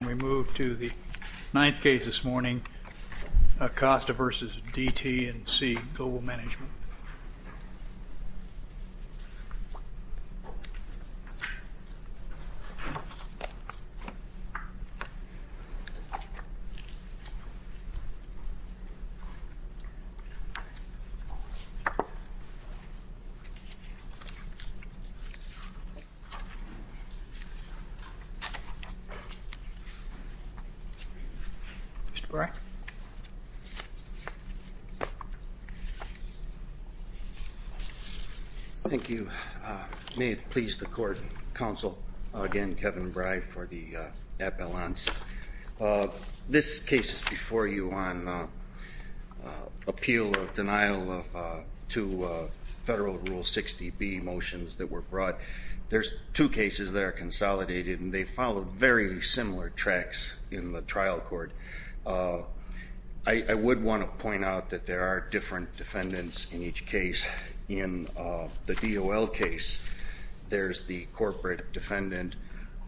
We move to the ninth case this morning, Acosta v. DT & C Global Management. Mr. Brey? Thank you. May it please the court, counsel, again, Kevin Brey for the appellants. This case is before you on appeal of denial of two federal Rule 60B motions that were brought. There's two cases that are consolidated and they follow very similar tracks in the trial court. I would want to point out that there are different defendants in each case. In the DOL case, there's the corporate defendant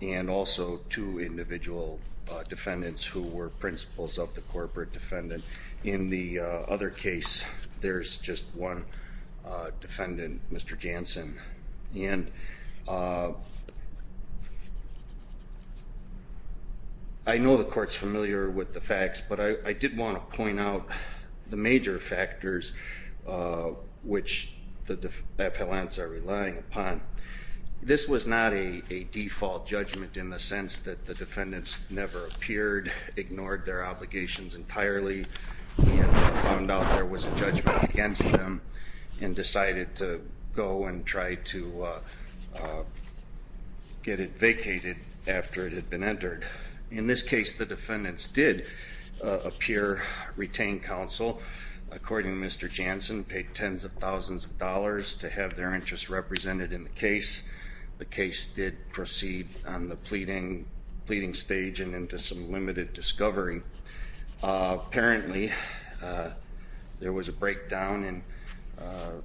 and also two individual defendants who were principals of the corporate defendant. In the other case, there's just one defendant, Mr. Jansen. And I know the court's familiar with the facts, but I did want to point out the major factors which the appellants are relying upon. This was not a default judgment in the sense that the defendants never appeared, ignored their obligations entirely, and found out there was a judgment against them and decided to go and try to get it vacated after it had been entered. In this case, the defendants did appear, retain counsel. According to Mr. Jansen, paid tens of thousands of dollars to have their interests represented in the case. The case did proceed on the pleading stage and into some limited discovery. Apparently, there was a breakdown in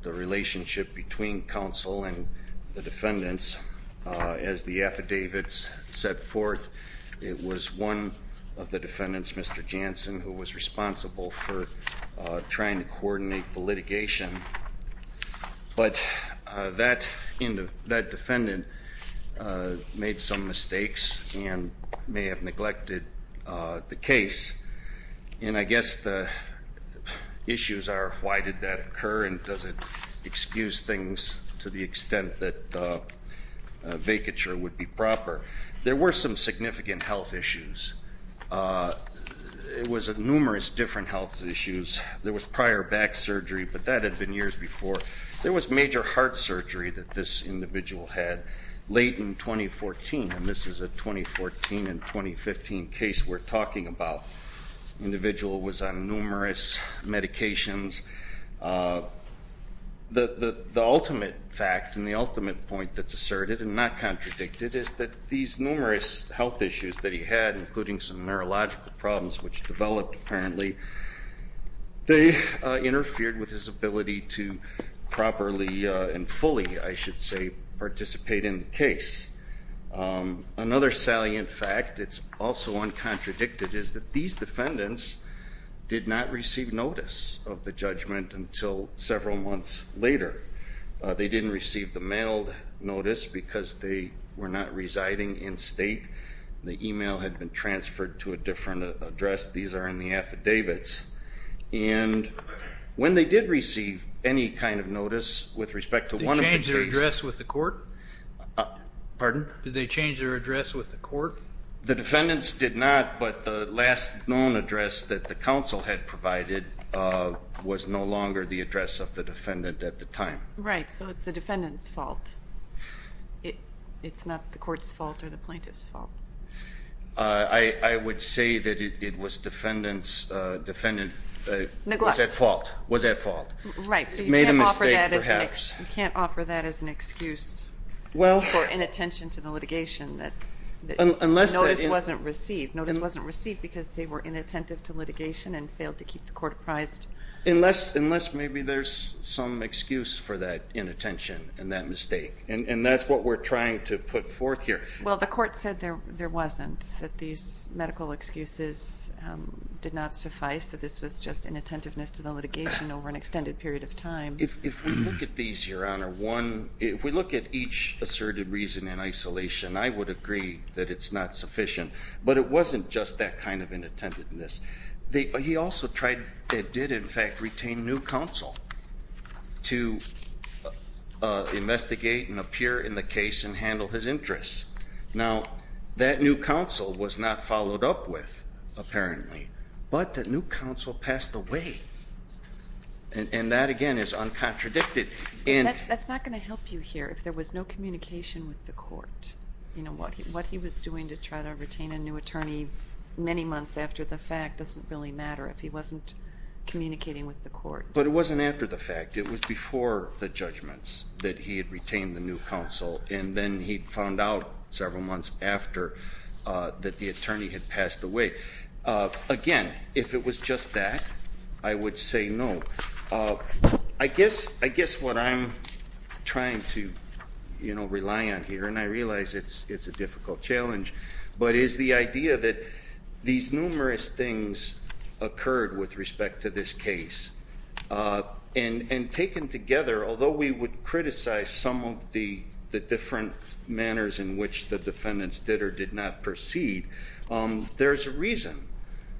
the relationship between counsel and the defendants. As the affidavits set forth, it was one of the defendants, Mr. Jansen, who was responsible for trying to coordinate the litigation. But that defendant made some mistakes and may have neglected the case. And I guess the issues are, why did that occur? And does it excuse things to the extent that vacature would be proper? There were some significant health issues. It was numerous different health issues. There was prior back surgery, but that had been years before. There was major heart surgery that this individual had late in 2014. And this is a 2014 and 2015 case we're talking about. Individual was on numerous medications. The ultimate fact and the ultimate point that's asserted and not contradicted is that these numerous health issues that he had, including some neurological problems, which developed apparently, they interfered with his ability to properly and fully, I should say, participate in the case. Another salient fact, it's also uncontradicted, is that these defendants did not receive notice of the judgment until several months later. They didn't receive the mailed notice because they were not residing in state. The e-mail had been transferred to a different address. These are in the affidavits. And when they did receive any kind of notice with respect to one of the cases. Did they change their address with the court? Pardon? Did they change their address with the court? The defendants did not, but the last known address that the council had provided was no longer the address of the defendant at the time. Right. So it's the defendant's fault. It's not the court's fault or the plaintiff's fault. I would say that it was defendant's fault. Was at fault. Right. Made a mistake perhaps. You can't offer that as an excuse for inattention to the litigation. The notice wasn't received. Notice wasn't received because they were inattentive to litigation and failed to keep the court apprised. Unless maybe there's some excuse for that inattention and that mistake. And that's what we're trying to put forth here. Well, the court said there wasn't, that these medical excuses did not suffice, that this was just inattentiveness to the litigation over an extended period of time. If we look at these, Your Honor, one, if we look at each asserted reason in isolation, I would agree that it's not sufficient. But it wasn't just that kind of inattentiveness. He also tried and did, in fact, retain new counsel to investigate and appear in the case and handle his interests. Now, that new counsel was not followed up with, apparently. But that new counsel passed away. And that, again, is uncontradicted. That's not going to help you here if there was no communication with the court. What he was doing to try to retain a new attorney many months after the fact doesn't really matter if he wasn't communicating with the court. But it wasn't after the fact. It was before the judgments that he had retained the new counsel. And then he found out several months after that the attorney had passed away. Again, if it was just that, I would say no. I guess what I'm trying to rely on here, and I realize it's a difficult challenge, but is the idea that these numerous things occurred with respect to this case. And taken together, although we would criticize some of the different manners in which the defendants did or did not proceed, there's a reason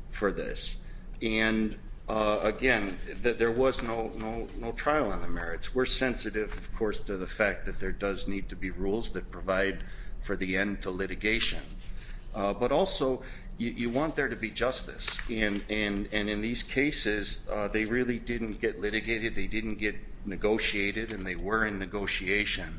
for this. And, again, there was no trial on the merits. We're sensitive, of course, to the fact that there does need to be rules that provide for the end to litigation. But also, you want there to be justice. And in these cases, they really didn't get litigated. They didn't get negotiated. And they were in negotiation.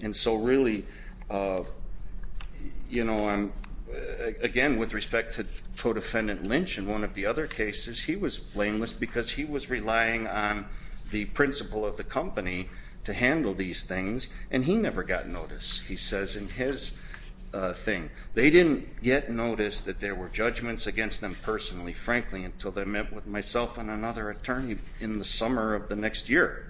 And so really, again, with respect to Co-Defendant Lynch and one of the other cases, he was blameless because he was relying on the principle of the company to handle these things, and he never got notice. He says in his thing, they didn't yet notice that there were judgments against them personally, frankly, until they met with myself and another attorney in the summer of the next year.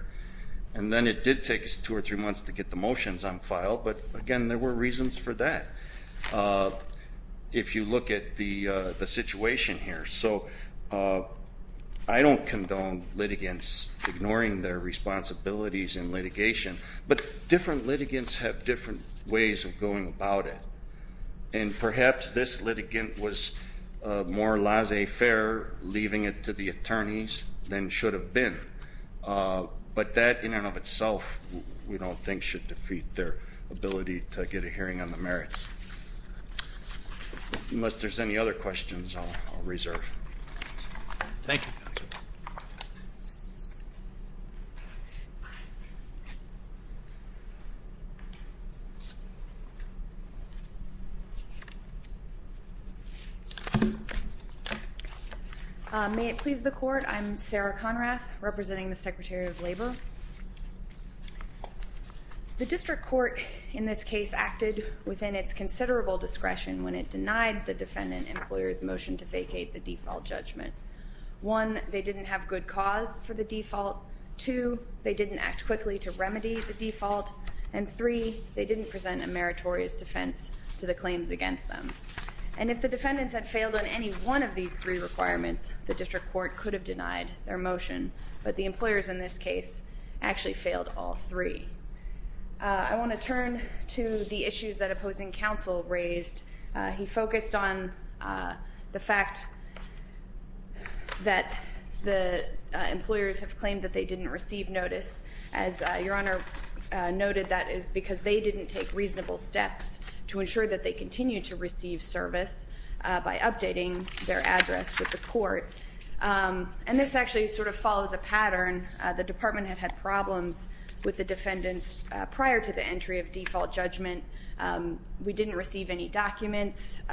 And then it did take us two or three months to get the motions on file. But, again, there were reasons for that if you look at the situation here. So I don't condone litigants ignoring their responsibilities in litigation. But different litigants have different ways of going about it. And perhaps this litigant was more laissez-faire, leaving it to the attorneys, than should have been. But that, in and of itself, we don't think should defeat their ability to get a hearing on the merits. Unless there's any other questions, I'll reserve. Thank you. Thank you. May it please the court, I'm Sarah Conrath, representing the Secretary of Labor. The district court in this case acted within its considerable discretion when it denied the defendant employer's motion to vacate the default judgment. One, they didn't have good cause for the default. Two, they didn't act quickly to remedy the default. And three, they didn't present a meritorious defense to the claims against them. And if the defendants had failed on any one of these three requirements, the district court could have denied their motion. But the employers in this case actually failed all three. I want to turn to the issues that opposing counsel raised. He focused on the fact that the employers have claimed that they didn't receive notice. As Your Honor noted, that is because they didn't take reasonable steps to ensure that they continue to receive service by updating their address with the court. And this actually sort of follows a pattern. The department had had problems with the defendants prior to the entry of default judgment. We didn't receive any documents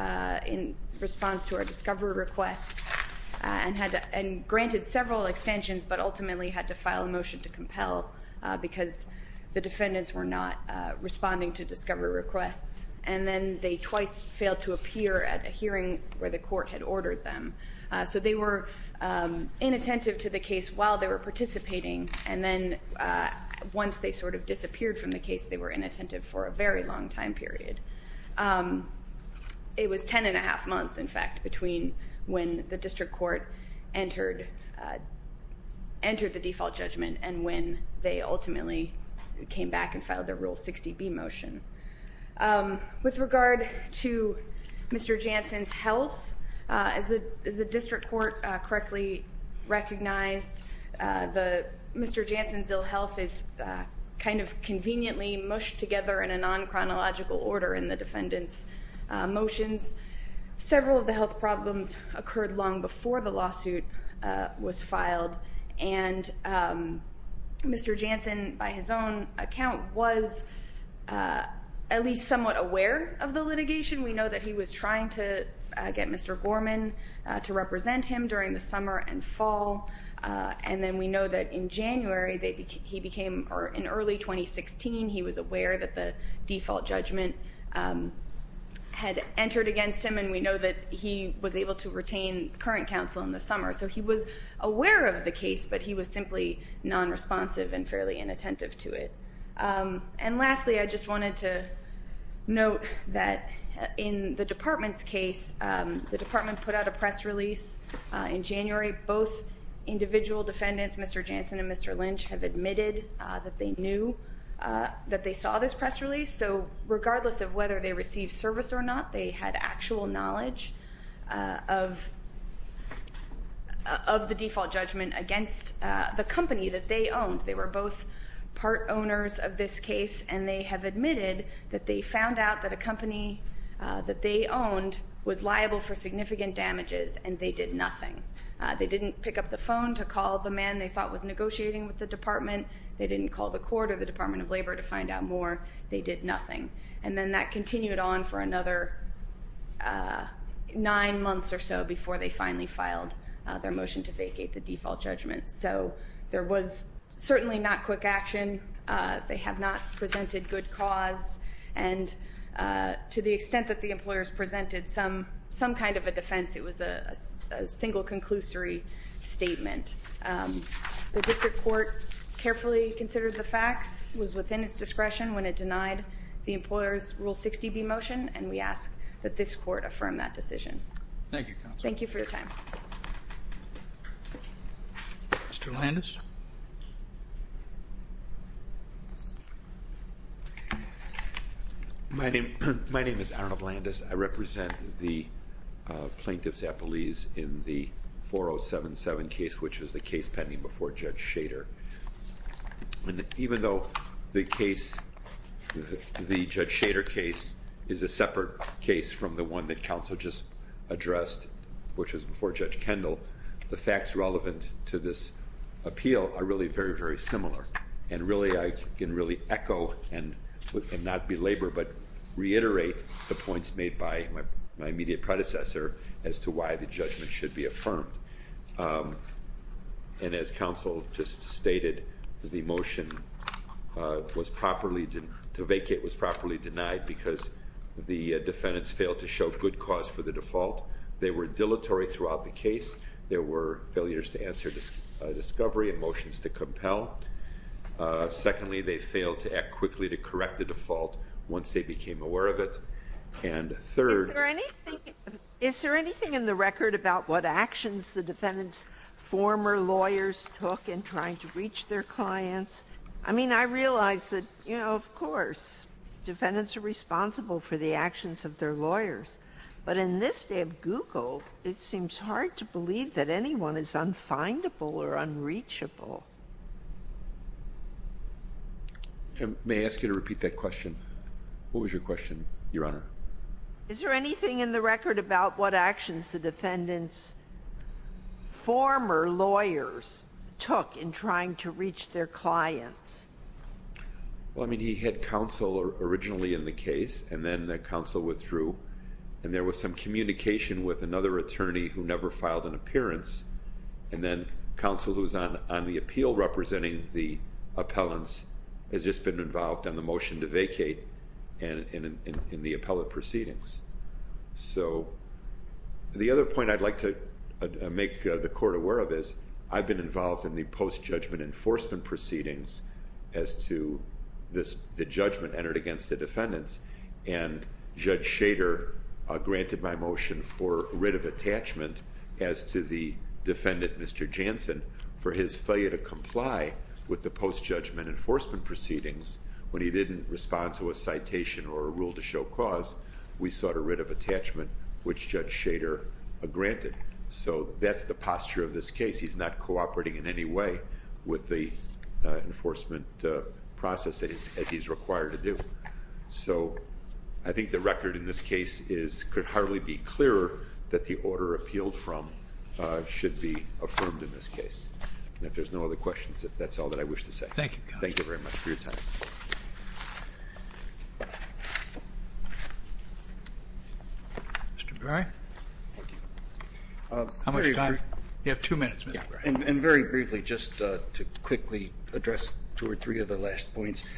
in response to our discovery requests and granted several extensions but ultimately had to file a motion to compel because the defendants were not responding to discovery requests. And then they twice failed to appear at a hearing where the court had ordered them. So they were inattentive to the case while they were participating. And then once they sort of disappeared from the case, they were inattentive for a very long time period. It was 10 1⁄2 months, in fact, between when the district court entered the default judgment and when they ultimately came back and filed their Rule 60B motion. With regard to Mr. Jansen's health, as the district court correctly recognized, Mr. Jansen's ill health is kind of conveniently mushed together in a non-chronological order in the defendants' motions. Several of the health problems occurred long before the lawsuit was filed. And Mr. Jansen, by his own account, was at least somewhat aware of the litigation. We know that he was trying to get Mr. Gorman to represent him during the summer and fall. And then we know that in January he became, or in early 2016, he was aware that the default judgment had entered against him, and we know that he was able to retain current counsel in the summer. So he was aware of the case, but he was simply non-responsive and fairly inattentive to it. And lastly, I just wanted to note that in the department's case, the department put out a press release in January. Both individual defendants, Mr. Jansen and Mr. Lynch, have admitted that they knew that they saw this press release. So regardless of whether they received service or not, they had actual knowledge of the default judgment against the company that they owned. They were both part owners of this case, and they have admitted that they found out that a company that they owned was liable for significant damages, and they did nothing. They didn't pick up the phone to call the man they thought was negotiating with the department. They didn't call the court or the Department of Labor to find out more. They did nothing. And then that continued on for another nine months or so before they finally filed their motion to vacate the default judgment. So there was certainly not quick action. They have not presented good cause. And to the extent that the employers presented some kind of a defense, it was a single conclusory statement. The district court carefully considered the facts, was within its discretion when it denied the employers' Rule 60B motion, and we ask that this court affirm that decision. Thank you, counsel. Thank you for your time. Mr. Landis. My name is Arnold Landis. I represent the Plaintiff's Appeals in the 4077 case, which was the case pending before Judge Shader. Even though the case, the Judge Shader case, is a separate case from the one that counsel just addressed, which was before Judge Kendall, the facts relevant to this appeal are really very, very similar. And really, I can really echo and not belabor but reiterate the points made by my immediate predecessor as to why the judgment should be affirmed. And as counsel just stated, the motion to vacate was properly denied because the defendants failed to show good cause for the default. They were dilatory throughout the case. There were failures to answer discovery and motions to compel. Secondly, they failed to act quickly to correct the default once they became aware of it. And third ---- Is there anything in the record about what actions the defendants' former lawyers took in trying to reach their clients? I mean, I realize that, you know, of course, defendants are responsible for the actions of their lawyers. But in this day of Google, it seems hard to believe that anyone is unfindable or unreachable. May I ask you to repeat that question? What was your question, Your Honor? Is there anything in the record about what actions the defendants' former lawyers took in trying to reach their clients? Well, I mean, he had counsel originally in the case. And then the counsel withdrew. And there was some communication with another attorney who never filed an appearance. And then counsel who is on the appeal representing the appellants has just been involved in the motion to vacate and in the appellate proceedings. So the other point I'd like to make the court aware of is I've been involved in the post-judgment enforcement proceedings as to the judgment entered against the defendants. And Judge Shader granted my motion for writ of attachment as to the defendant, Mr. Jansen, for his failure to comply with the post-judgment enforcement proceedings when he didn't respond to a citation or a rule to show cause. We sought a writ of attachment, which Judge Shader granted. So that's the posture of this case. He's not cooperating in any way with the enforcement process as he's required to do. So I think the record in this case could hardly be clearer that the order appealed from should be affirmed in this case. If there's no other questions, that's all that I wish to say. Thank you, counsel. Thank you very much for your time. Mr. Gray. How much time? You have two minutes. And very briefly, just to quickly address two or three of the last points.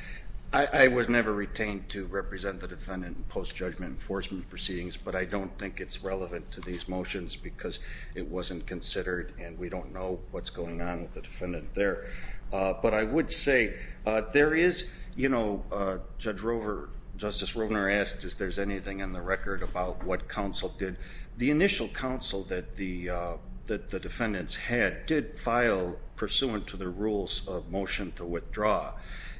I was never retained to represent the defendant in post-judgment enforcement proceedings, but I don't think it's relevant to these motions because it wasn't considered. And we don't know what's going on with the defendant there. But I would say there is, you know, Judge Rovner, Justice Rovner asked if there's anything in the record about what counsel did. The initial counsel that the defendants had did file pursuant to the rules of motion to withdraw.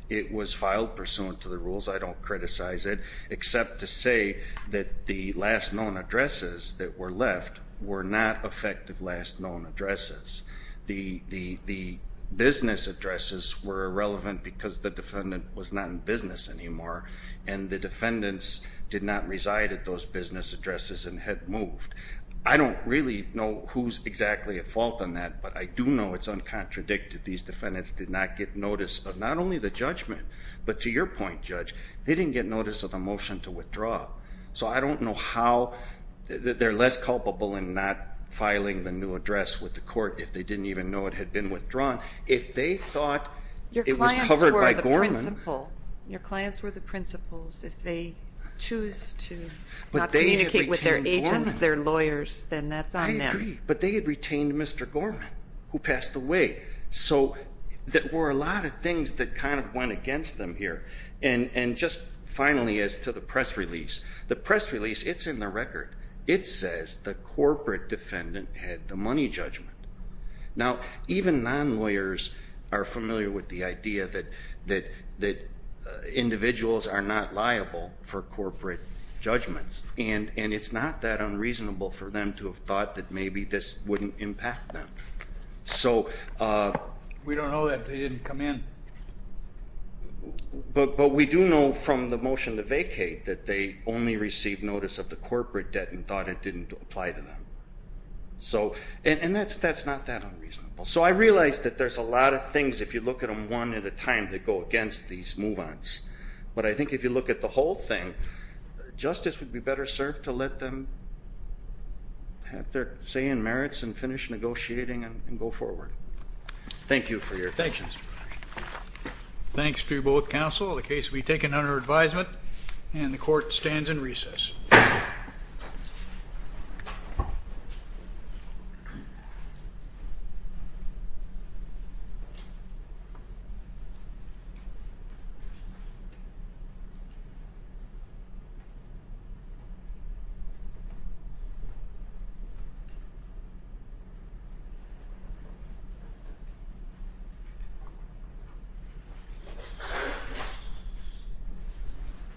It was filed pursuant to the rules. I don't criticize it, except to say that the last known addresses that were left were not effective last known addresses. The business addresses were irrelevant because the defendant was not in business anymore. And the defendants did not reside at those business addresses and had moved. I don't really know who's exactly at fault on that, but I do know it's uncontradicted. These defendants did not get notice of not only the judgment, but to your point, Judge, they didn't get notice of the motion to withdraw. So I don't know how they're less culpable in not filing the new address with the court if they didn't even know it had been withdrawn. If they thought it was covered by Gorman. Your clients were the principal. Your clients were the principals. If they choose to not communicate with their agents, their lawyers, then that's on them. I agree, but they had retained Mr. Gorman, who passed away. So there were a lot of things that kind of went against them here. And just finally, as to the press release, the press release, it's in the record. It says the corporate defendant had the money judgment. Now, even non-lawyers are familiar with the idea that individuals are not liable for corporate judgments. And it's not that unreasonable for them to have thought that maybe this wouldn't impact them. We don't know that they didn't come in. But we do know from the motion to vacate that they only received notice of the corporate debt and thought it didn't apply to them. And that's not that unreasonable. So I realize that there's a lot of things, if you look at them one at a time, that go against these move-ons. But I think if you look at the whole thing, justice would be better served to let them have their say in merits and finish negotiating and go forward. Thank you for your attention. Thanks to both counsel. The case will be taken under advisement. And the court stands in recess. Thank you.